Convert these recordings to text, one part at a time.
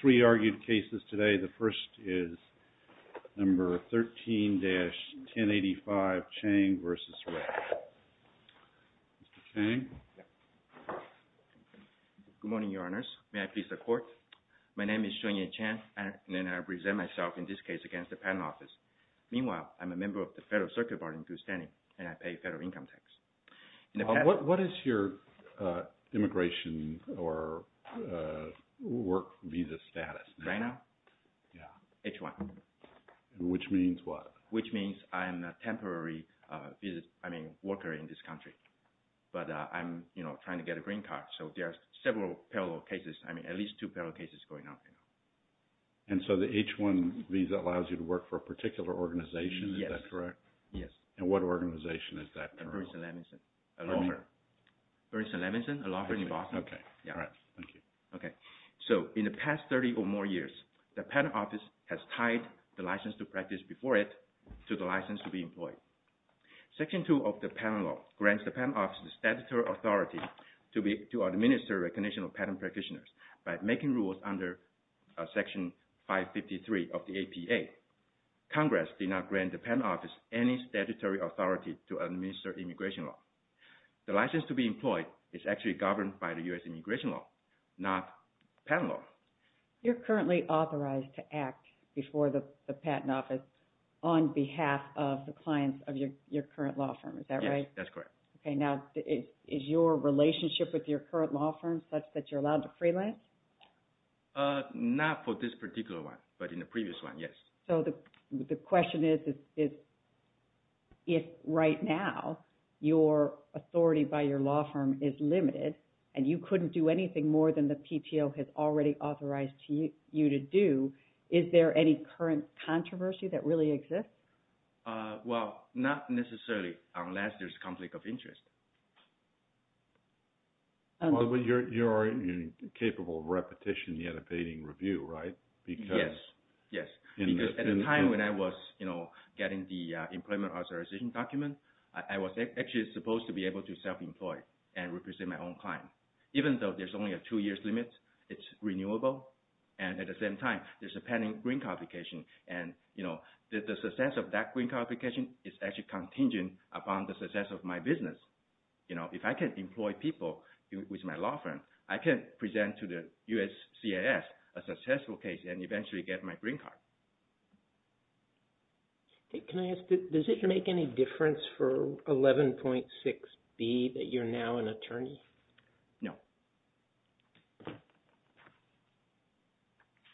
Three argued cases today. The first is number 13-1085, Chang v. Rea. Mr. Chang? Yes. Good morning, Your Honors. May I please have court? My name is HSUAN-YEH CHANG, and I present myself in this case against the Patent Office. Meanwhile, I'm a member of the Federal Circuit Board in Houston, and I pay federal income tax. What is your immigration or work visa status? Right now? Yes. H-1. Which means what? Which means I am a temporary worker in this country, but I'm trying to get a green card. So there are several parallel cases, at least two parallel cases going on. And so the H-1 visa allows you to work for a particular organization, is that correct? Yes. And what organization is that? Burrison-Levinson. A law firm. Burrison-Levinson? A law firm in Boston? Okay. All right. Thank you. Okay. So in the past 30 or more years, the Patent Office has tied the license to practice before it to the license to be employed. Section 2 of the Patent Law grants the Patent Office the statutory authority to administer recognition of patent practitioners by making rules under Section 553 of the APA. Congress did not grant the Patent Office any statutory authority to administer immigration law. The license to be employed is actually governed by the U.S. immigration law, not patent law. You're currently authorized to act before the Patent Office on behalf of the clients of your current law firm, is that right? Yes, that's correct. Okay. Now, is your relationship with your current law firm such that you're allowed to freelance? Not for this particular one, but in the previous one, yes. So the question is, if right now, your authority by your law firm is limited, and you couldn't do anything more than the PTO has already authorized you to do, is there any current controversy that really exists? Well, not necessarily, unless there's a conflict of interest. You're capable of repetition, yet evading review, right? Yes. Yes, because at the time when I was getting the employment authorization document, I was actually supposed to be able to self-employ and represent my own client. Even though there's only a two-year limit, it's renewable, and at the same time, there's a pending green qualification, and the success of that green qualification is actually contingent upon the success of my business. If I can employ people with my law firm, I can present to the USCIS a successful case and eventually get my green card. Can I ask, does it make any difference for 11.6b that you're now an attorney? No.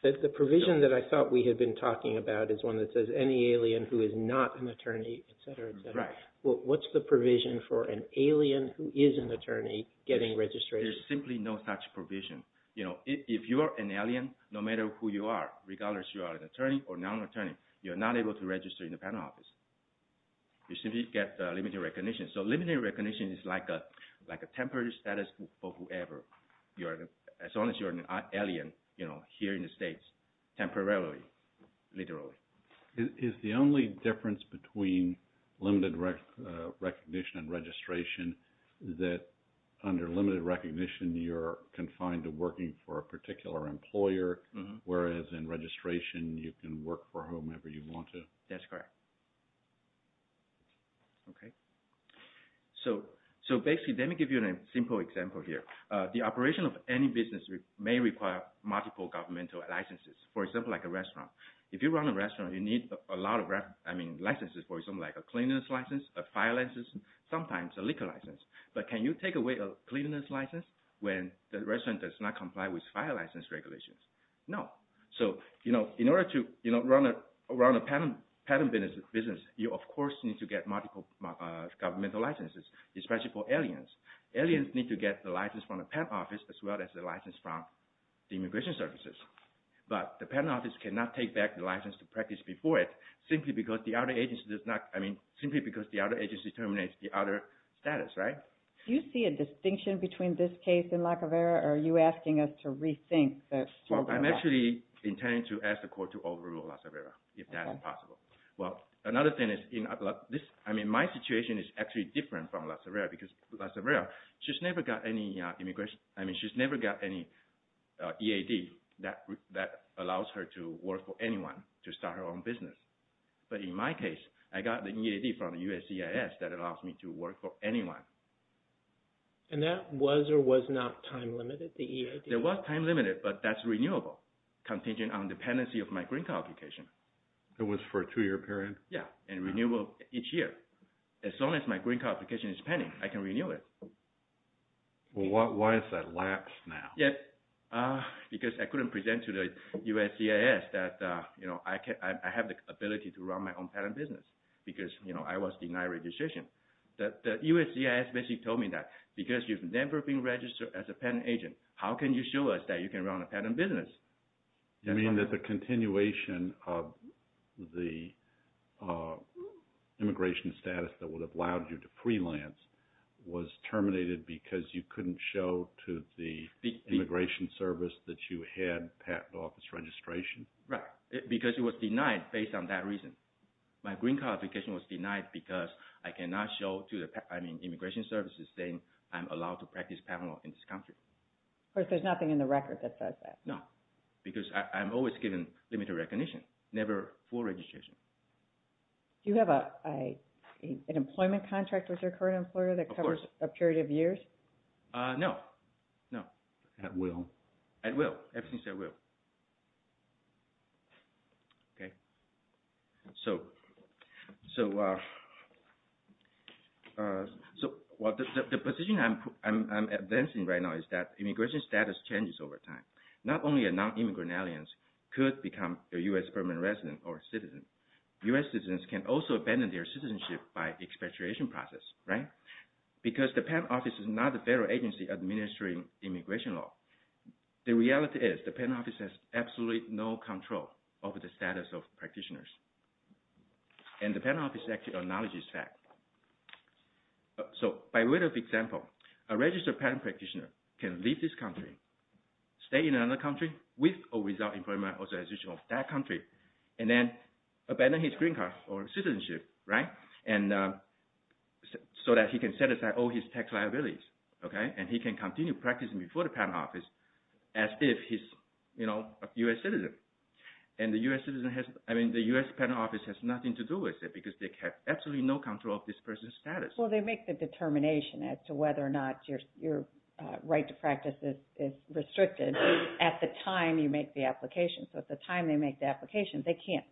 The provision that I thought we had been talking about is one that says any alien who is not an attorney, et cetera, et cetera. Right. Well, what's the provision for an alien who is an attorney getting registration? There's simply no such provision. If you are an alien, no matter who you are, regardless if you are an attorney or non-attorney, you are not able to register in the panel office. You simply get limited recognition. Limited recognition is like a temporary status for whoever, as long as you're an alien here in the States, temporarily, literally. Is the only difference between limited recognition and registration that under limited recognition, you're confined to working for a particular employer, whereas in registration, you can work for whomever you want to? That's correct. Okay. So, basically, let me give you a simple example here. The operation of any business may require multiple governmental licenses, for example, like a restaurant. If you run a restaurant, you need a lot of licenses, for example, like a cleanness license, a fire license, sometimes a liquor license. But can you take away a cleanness license when the restaurant does not comply with fire license regulations? No. So, in order to run a patent business, you, of course, need to get multiple governmental licenses, especially for aliens. Aliens need to get the license from the patent office as well as the license from the immigration services. But the patent office cannot take back the license to practice before it, simply because the other agency determines the other status, right? Do you see a distinction between this case and La Cervera, or are you asking us to rethink the program? Well, I'm actually intending to ask the court to overrule La Cervera, if that's possible. Well, another thing is, I mean, my situation is actually different from La Cervera, because La Cervera, she's never got any immigration – I mean, she's never got any EAD that allows her to work for anyone to start her own business. But in my case, I got the EAD from the USCIS that allows me to work for anyone. And that was or was not time-limited, the EAD? It was time-limited, but that's renewable, contingent on dependency of my green card application. It was for a two-year period? Yeah, and renewable each year. As soon as my green card application is pending, I can renew it. Well, why has that lapsed now? Because I couldn't present to the USCIS that I have the ability to run my own patent business, because I was denied registration. The USCIS basically told me that, because you've never been registered as a patent agent, how can you show us that you can run a patent business? You mean that the continuation of the immigration status that would have allowed you to freelance was terminated because you couldn't show to the immigration service that you had patent office registration? Right, because it was denied based on that reason. My green card application was denied because I cannot show to the immigration services saying I'm allowed to practice patent law in this country. Of course, there's nothing in the record that says that. No, because I'm always given limited recognition, never full registration. Do you have an employment contract with your current employer that covers a period of years? No, no. At will? At will, everything's at will. The position I'm advancing right now is that immigration status changes over time. Not only are non-immigrant aliens could become a U.S. permanent resident or citizen, U.S. citizens can also abandon their citizenship by expatriation process, right? Because the patent office is not a federal agency administering immigration law. The reality is the patent office has absolutely no control over the status of practitioners. And the patent office actually acknowledges that. So by way of example, a registered patent practitioner can leave this country, stay in another country with or without employment authorization of that country, and then abandon his green card or citizenship, right? And so that he can set aside all his tax liabilities. And he can continue practicing before the patent office as if he's a U.S. citizen. And the U.S. patent office has nothing to do with it because they have absolutely no control of this person's status. Well, they make the determination as to whether or not your right to practice is restricted at the time you make the application. So at the time they make the application, they can't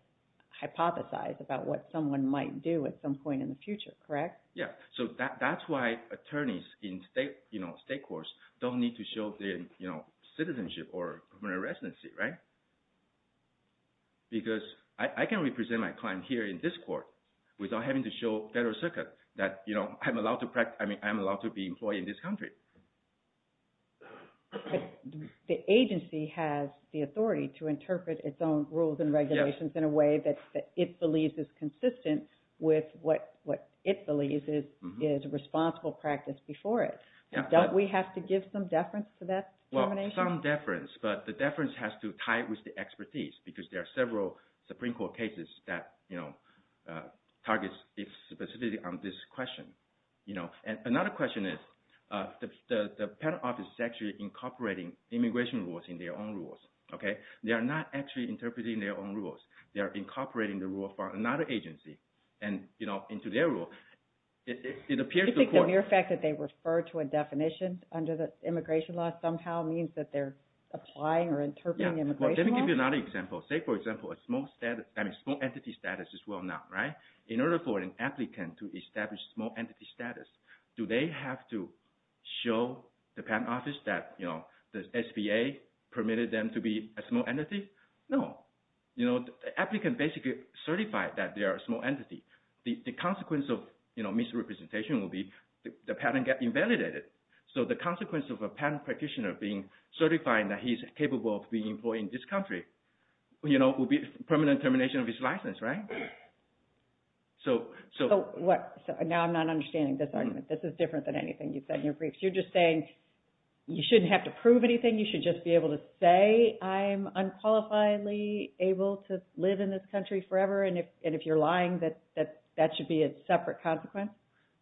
hypothesize about what someone might do at some point in the future, correct? Yeah, so that's why attorneys in state courts don't need to show their citizenship or permanent residency, right? Because I can represent my client here in this court without having to show Federal Circuit that I'm allowed to be employed in this country. The agency has the authority to interpret its own rules and regulations in a way that it believes is consistent with what it believes is responsible practice before it. Don't we have to give some deference to that determination? We give some deference, but the deference has to tie with the expertise because there are several Supreme Court cases that target specifically on this question. And another question is the patent office is actually incorporating immigration rules in their own rules. They are not actually interpreting their own rules. They are incorporating the rule from another agency into their rule. Do you think the mere fact that they refer to a definition under the immigration law somehow means that they're applying or interpreting immigration law? Yeah, let me give you another example. Say, for example, a small entity status as well now, right? In order for an applicant to establish small entity status, do they have to show the patent office that the SBA permitted them to be a small entity? No. The applicant basically certified that they are a small entity. The consequence of misrepresentation would be the patent gets invalidated. So the consequence of a patent practitioner being certified that he's capable of being employed in this country would be permanent termination of his license, right? Now I'm not understanding this argument. This is different than anything you've said in your briefs. You're just saying you shouldn't have to prove anything. You should just be able to say I'm unqualifiedly able to live in this country forever. And if you're lying, that should be a separate consequence?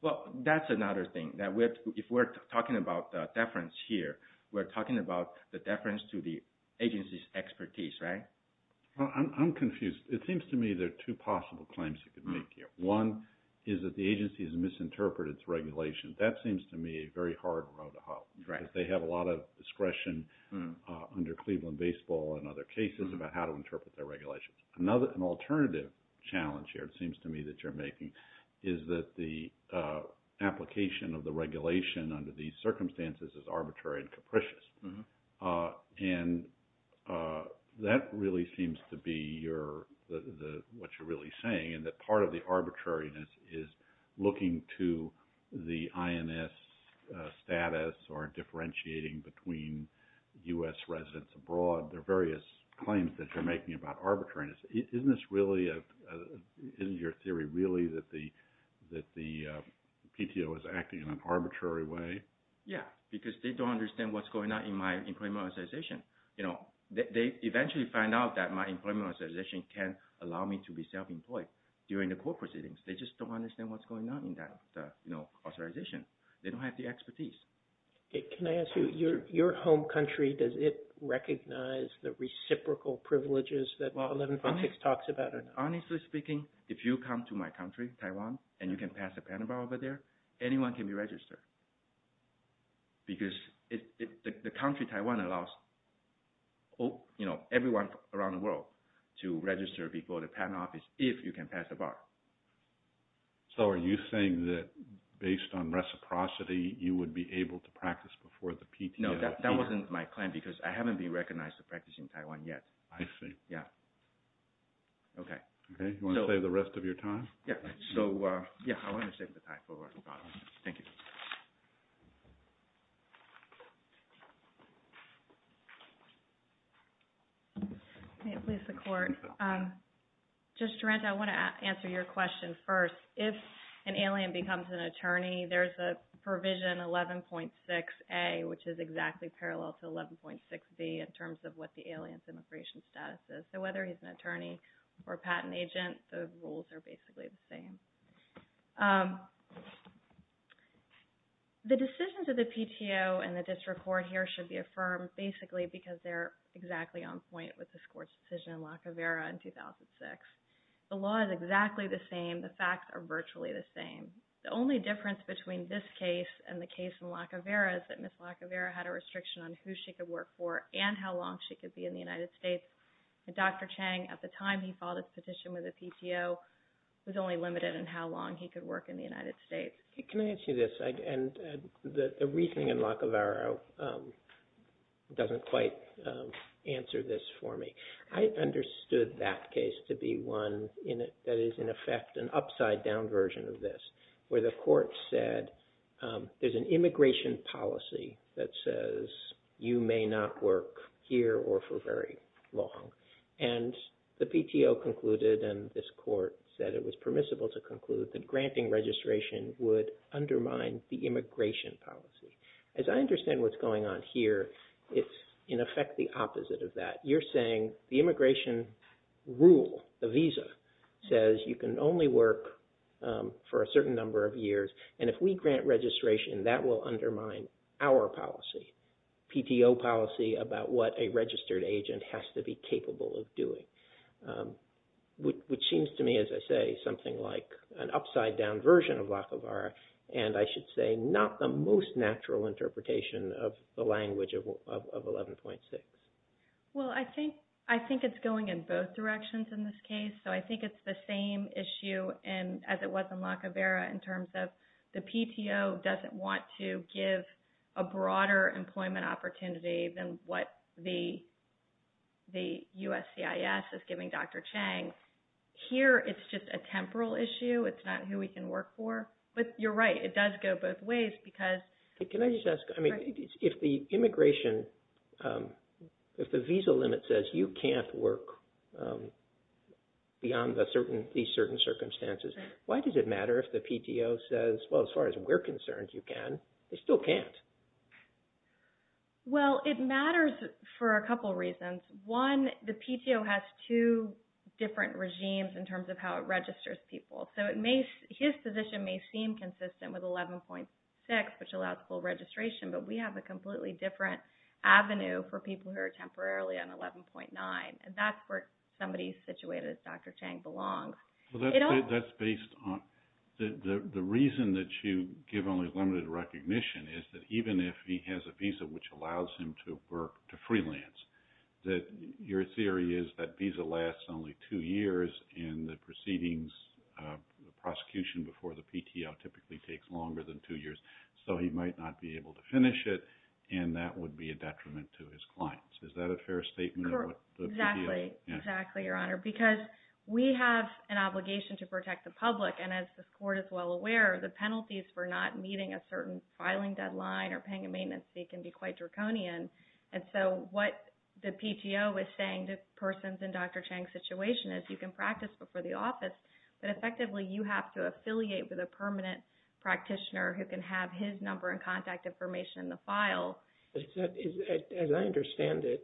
Well, that's another thing. If we're talking about deference here, we're talking about the deference to the agency's expertise, right? I'm confused. It seems to me there are two possible claims you could make here. One is that the agency has misinterpreted its regulations. That seems to me a very hard road to hobble because they have a lot of discretion under Cleveland baseball and other cases about how to interpret their regulations. Another alternative challenge here it seems to me that you're making is that the application of the regulation under these circumstances is arbitrary and capricious. And that really seems to be what you're really saying and that part of the arbitrariness is looking to the INS status or differentiating between U.S. residents abroad. There are various claims that you're making about arbitrariness. Isn't this really – isn't your theory really that the PTO is acting in an arbitrary way? Yeah, because they don't understand what's going on in my employment authorization. They eventually find out that my employment authorization can't allow me to be self-employed during the court proceedings. They just don't understand what's going on in that authorization. They don't have the expertise. Can I ask you, your home country, does it recognize the reciprocal privileges that Law 1146 talks about or not? Honestly speaking, if you come to my country, Taiwan, and you can pass a patent over there, anyone can be registered because the country Taiwan allows everyone around the world to register before the patent office if you can pass a bar. So are you saying that based on reciprocity, you would be able to practice before the PTO? No, that wasn't my claim because I haven't been recognized for practicing in Taiwan yet. I see. Yeah. Okay. Okay. Do you want to save the rest of your time? Yeah. So, yeah, I want to save the time for the bottom. Thank you. May it please the Court. Justice Durant, I want to answer your question first. If an alien becomes an attorney, there's a provision 11.6A, which is exactly parallel to 11.6B in terms of what the alien's immigration status is. So whether he's an attorney or a patent agent, the rules are basically the same. The decisions of the PTO and the district court here should be affirmed basically because they're exactly on point with this Court's decision in Lacovera in 2006. The law is exactly the same. The facts are virtually the same. The only difference between this case and the case in Lacovera is that Ms. Lacovera had a restriction on who she could work for and how long she could be in the United States. And Dr. Chang, at the time he filed his petition with the PTO, was only limited in how long he could work in the United States. Can I ask you this? And the reasoning in Lacovera doesn't quite answer this for me. I understood that case to be one that is, in effect, an upside-down version of this, where the Court said there's an immigration policy that says you may not work here or for very long. And the PTO concluded, and this Court said it was permissible to conclude, that granting registration would undermine the immigration policy. As I understand what's going on here, it's, in effect, the opposite of that. You're saying the immigration rule, the visa, says you can only work for a certain number of years. And if we grant registration, that will undermine our policy, PTO policy, about what a registered agent has to be capable of doing, which seems to me, as I say, something like an upside-down version of Lacovera, and I should say not the most natural interpretation of the language of 11.6. Well, I think it's going in both directions in this case. So I think it's the same issue as it was in Lacovera in terms of the PTO doesn't want to give a broader employment opportunity than what the USCIS is giving Dr. Chang. Here, it's just a temporal issue. It's not who we can work for. But you're right. It does go both ways because… If the visa limit says you can't work beyond these certain circumstances, why does it matter if the PTO says, well, as far as we're concerned, you can. They still can't. Well, it matters for a couple reasons. One, the PTO has two different regimes in terms of how it registers people. So his position may seem consistent with 11.6, which allows full registration, but we have a completely different avenue for people who are temporarily on 11.9, and that's where somebody situated as Dr. Chang belongs. The reason that you give only limited recognition is that even if he has a visa which allows him to work to freelance, that your theory is that visa lasts only two years and the proceedings, the prosecution before the PTO typically takes longer than two years. So he might not be able to finish it, and that would be a detriment to his clients. Is that a fair statement? Correct. Exactly. Exactly, Your Honor, because we have an obligation to protect the public, and as the court is well aware, the penalties for not meeting a certain filing deadline or paying a maintenance fee can be quite draconian. And so what the PTO is saying to persons in Dr. Chang's situation is you can practice before the office, but effectively you have to affiliate with a permanent practitioner who can have his number and contact information in the file. As I understand it,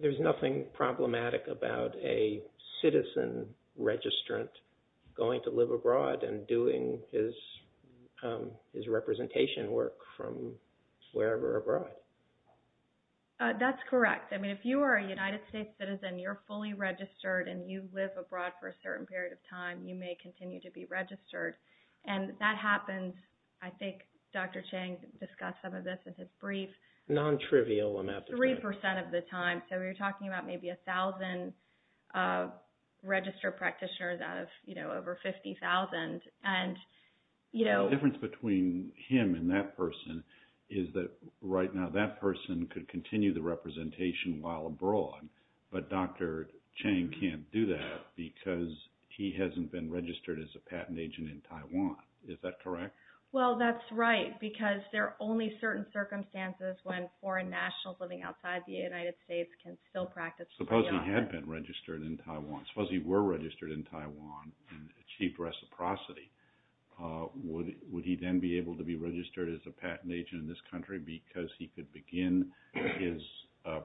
there's nothing problematic about a citizen registrant going to live abroad and doing his representation work from wherever abroad. That's correct. I mean, if you are a United States citizen, you're fully registered, and you live abroad for a certain period of time, you may continue to be registered. And that happens, I think Dr. Chang discussed some of this in his brief. Non-trivial, I'm apt to say. 3% of the time. So you're talking about maybe 1,000 registered practitioners out of over 50,000. The difference between him and that person is that right now that person could continue the representation while abroad, but Dr. Chang can't do that because he hasn't been registered as a patent agent in Taiwan. Is that correct? Well, that's right, because there are only certain circumstances when foreign nationals living outside the United States can still practice. Suppose he had been registered in Taiwan. Suppose he were registered in Taiwan and achieved reciprocity. Would he then be able to be registered as a patent agent in this country because he could begin his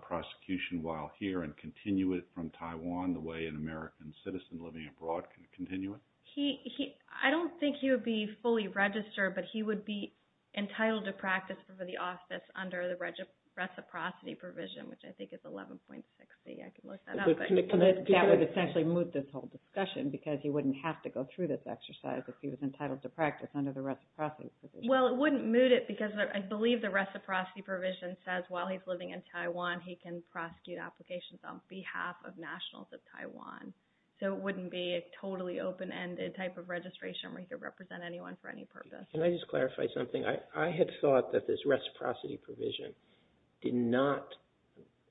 prosecution while here and continue it from Taiwan the way an American citizen living abroad can continue it? I don't think he would be fully registered, but he would be entitled to practice for the office under the reciprocity provision, which I think is 11.60. I can look that up. That would essentially move this whole discussion because he wouldn't have to go through this exercise if he was entitled to practice under the reciprocity provision. Well, it wouldn't move it because I believe the reciprocity provision says while he's living in Taiwan, he can prosecute applications on behalf of nationals of Taiwan. So it wouldn't be a totally open-ended type of registration where he could represent anyone for any purpose. Can I just clarify something? I had thought that this reciprocity provision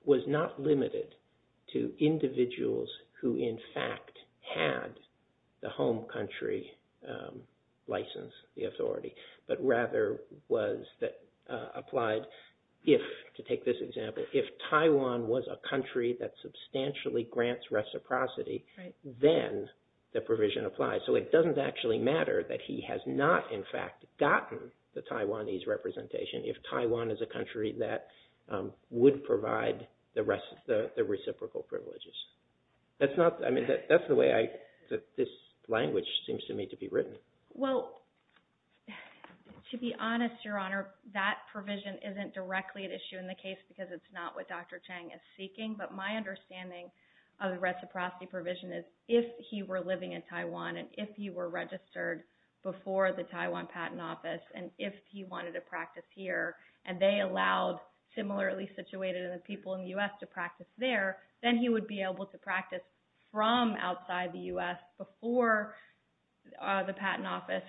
was not limited to individuals who in fact had the home country license, the authority, but rather was that applied if, to take this example, if Taiwan was a country that substantially grants reciprocity, then the provision applies. So it doesn't actually matter that he has not in fact gotten the Taiwanese representation if Taiwan is a country that would provide the reciprocal privileges. That's the way this language seems to me to be written. Well, to be honest, Your Honor, that provision isn't directly at issue in the case because it's not what Dr. Chang is seeking. But my understanding of the reciprocity provision is if he were living in Taiwan and if he were registered before the Taiwan Patent Office and if he wanted to practice here and they allowed similarly situated people in the U.S. to practice there, then he would be able to practice from outside the U.S. before the Patent Office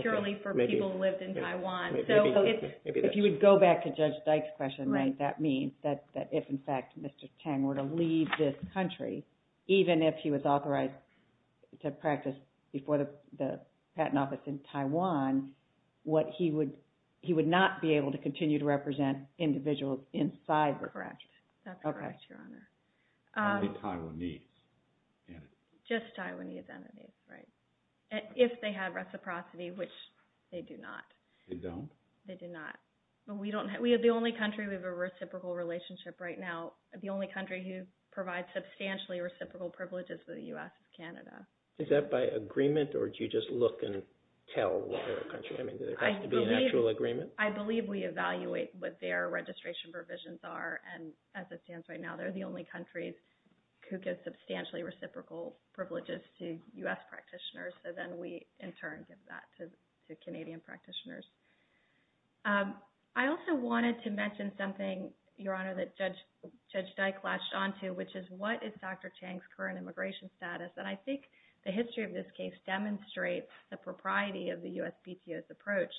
purely for people who lived in Taiwan. If you would go back to Judge Dyke's question, that means that if in fact Mr. Chang were to leave this country, even if he was authorized to practice before the Patent Office in Taiwan, he would not be able to continue to represent individuals inside the country. Correct. That's correct, Your Honor. Only Taiwanese entities. Just Taiwanese entities, right. If they had reciprocity, which they do not. They don't? They do not. We have the only country, we have a reciprocal relationship right now. The only country who provides substantially reciprocal privileges to the U.S. is Canada. Is that by agreement or do you just look and tell what other country? I mean, does it have to be an actual agreement? I believe we evaluate what their registration provisions are and as it stands right now, they're the only countries who give substantially reciprocal privileges to U.S. practitioners. So then we in turn give that to Canadian practitioners. I also wanted to mention something, Your Honor, that Judge Dyke latched onto, which is what is Dr. Chang's current immigration status? And I think the history of this case demonstrates the propriety of the USPTO's approach.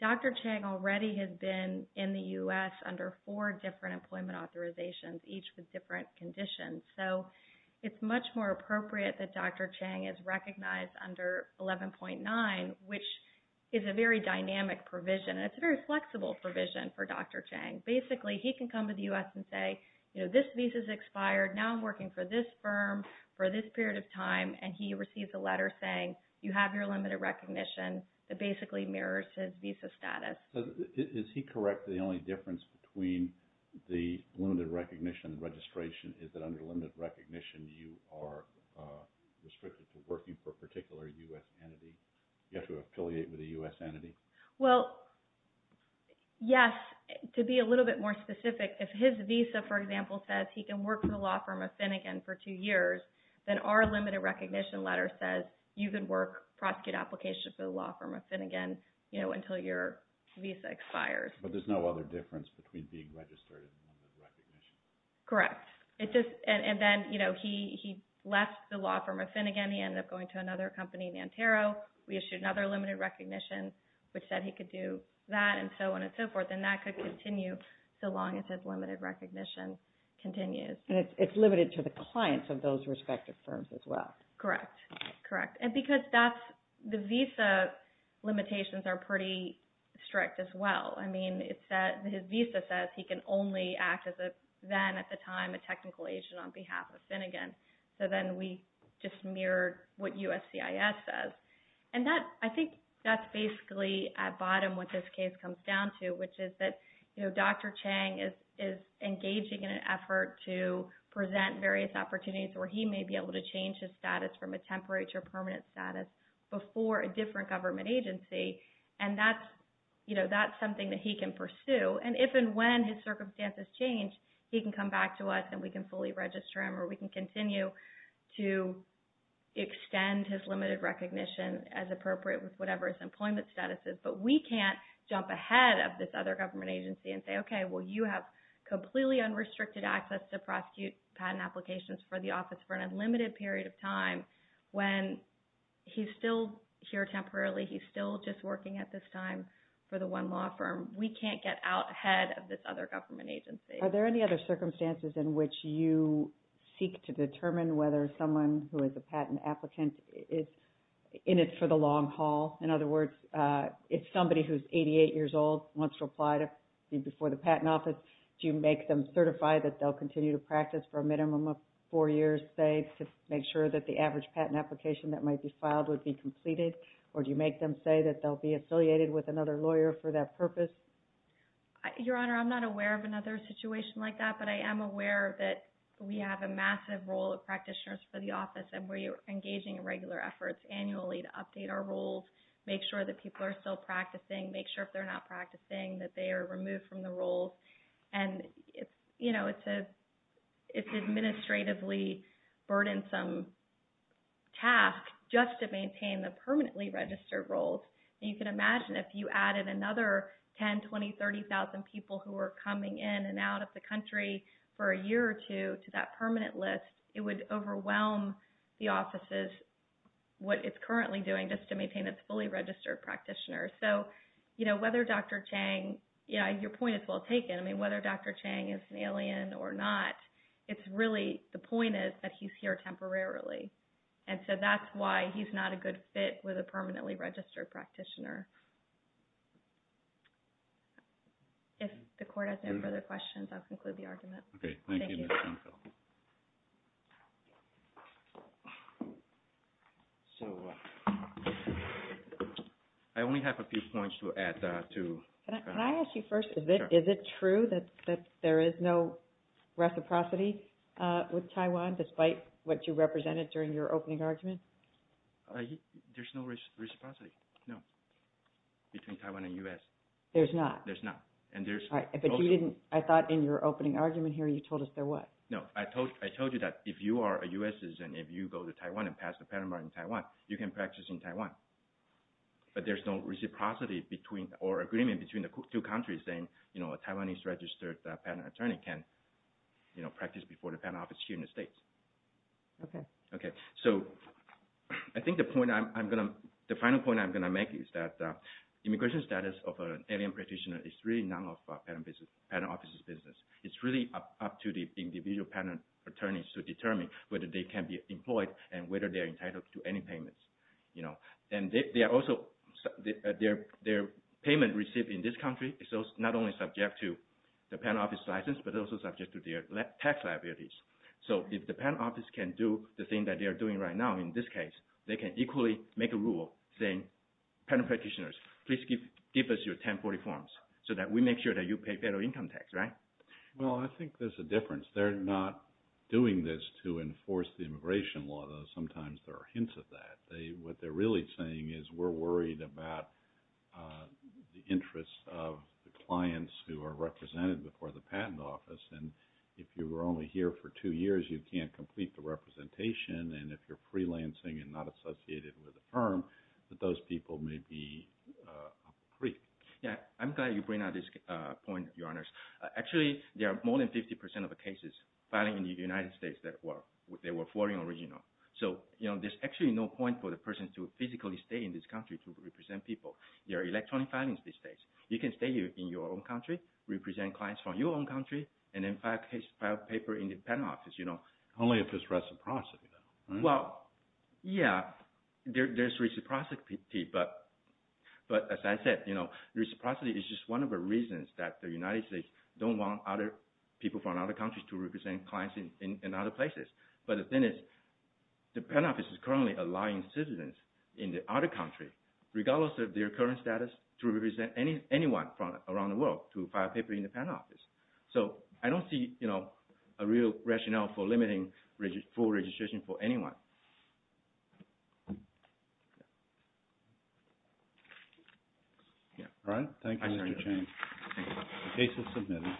Dr. Chang already has been in the U.S. under four different employment authorizations, each with different conditions. So it's much more appropriate that Dr. Chang is recognized under 11.9, which is a very dynamic provision. It's a very flexible provision for Dr. Chang. Basically, he can come to the U.S. and say, this visa's expired, now I'm working for this firm for this period of time, and he receives a letter saying you have your limited recognition that basically mirrors his visa status. Is he correct that the only difference between the limited recognition and registration is that under limited recognition you are restricted to working for a particular U.S. entity? You have to affiliate with a U.S. entity? Well, yes. To be a little bit more specific, if his visa, for example, says he can work for the law firm of Finnegan for two years, then our limited recognition letter says you can work, prosecute applications for the law firm of Finnegan until your visa expires. But there's no other difference between being registered and limited recognition? Correct. And then he left the law firm of Finnegan. He ended up going to another company, Nantero. We issued another limited recognition, which said he could do that and so on and so forth. And that could continue so long as his limited recognition continues. And it's limited to the clients of those respective firms as well? Correct. Correct. The visa limitations are pretty strict as well. I mean, his visa says he can only act as a, then at the time, a technical agent on behalf of Finnegan. So then we just mirrored what USCIS says. And I think that's basically at bottom what this case comes down to, which is that Dr. Chang is engaging in an effort to present various opportunities where he may be able to change his status from a temporary to a permanent status before a different government agency. And that's something that he can pursue. And if and when his circumstances change, he can come back to us and we can fully register him or we can continue to extend his limited recognition as appropriate with whatever his employment status is. But we can't jump ahead of this other government agency and say, okay, well, you have completely unrestricted access to prosecute patent applications for the office for an unlimited period of time when he's still here temporarily. He's still just working at this time for the one law firm. We can't get out ahead of this other government agency. Are there any other circumstances in which you seek to determine whether someone who is a patent applicant is in it for the long haul? In other words, if somebody who's 88 years old wants to apply to be before the patent office, do you make them certify that they'll continue to practice for a minimum of four years, say, to make sure that the average patent application that might be filed would be completed? Or do you make them say that they'll be affiliated with another lawyer for that purpose? Your Honor, I'm not aware of another situation like that, but I am aware that we have a massive role of practitioners for the office and we're engaging in regular efforts annually to update our roles, make sure that people are still practicing, make sure if they're not practicing that they are removed from the roles. It's an administratively burdensome task just to maintain the permanently registered roles. You can imagine if you added another 10, 20, 30,000 people who are coming in and out of the country for a year or two to that permanent list, it would overwhelm the offices, what it's currently doing just to maintain its fully registered practitioners. Whether Dr. Chang, your point is well taken, whether Dr. Chang is an alien or not, it's really, the point is that he's here temporarily. And so that's why he's not a good fit with a permanently registered practitioner. If the Court has no further questions, I'll conclude the argument. Okay. Thank you, Ms. Dunfield. So I only have a few points to add to that. Can I ask you first, is it true that there is no reciprocity with Taiwan despite what you represented during your opening argument? There's no reciprocity, no, between Taiwan and U.S. There's not? There's not. But you didn't, I thought in your opening argument here you told us there was. No, I told you that if you are a U.S. citizen, if you go to Taiwan and pass the patent bar in Taiwan, you can practice in Taiwan. But there's no reciprocity or agreement between the two countries saying a Taiwanese registered patent attorney can practice before the patent office here in the States. Okay. Okay. So I think the point I'm going to, the final point I'm going to make is that immigration status of an alien practitioner is really none of the patent office's business. It's really up to the individual patent attorneys to determine whether they can be employed and whether they're entitled to any payments. And they are also, their payment received in this country is not only subject to the patent office's license, but also subject to their tax liabilities. So if the patent office can do the thing that they are doing right now in this case, they can equally make a rule saying patent practitioners, please give us your 1040 forms so that we make sure that you pay federal income tax. Right? Well, I think there's a difference. They're not doing this to enforce the immigration law, though sometimes there are hints of that. What they're really saying is we're worried about the interests of the clients who are represented before the patent office. And if you were only here for two years, you can't complete the representation. And if you're freelancing and not associated with a firm, that those people may be a freak. Yeah, I'm glad you bring up this point, Your Honors. Actually, there are more than 50% of the cases filing in the United States that were foreign or regional. So there's actually no point for the person to physically stay in this country to represent people. There are electronic filings these days. You can stay in your own country, represent clients from your own country, and then file a paper in the patent office. Only if it's reciprocity, though. Well, yeah, there's reciprocity. But as I said, reciprocity is just one of the reasons that the United States don't want people from other countries to represent clients in other places. But the thing is the patent office is currently allowing citizens in the other country, regardless of their current status, to represent anyone from around the world to file a paper in the patent office. So I don't see a real rationale for limiting full registration for anyone. All right. Thank you, Mr. Chang. Thank you. The case is submitted.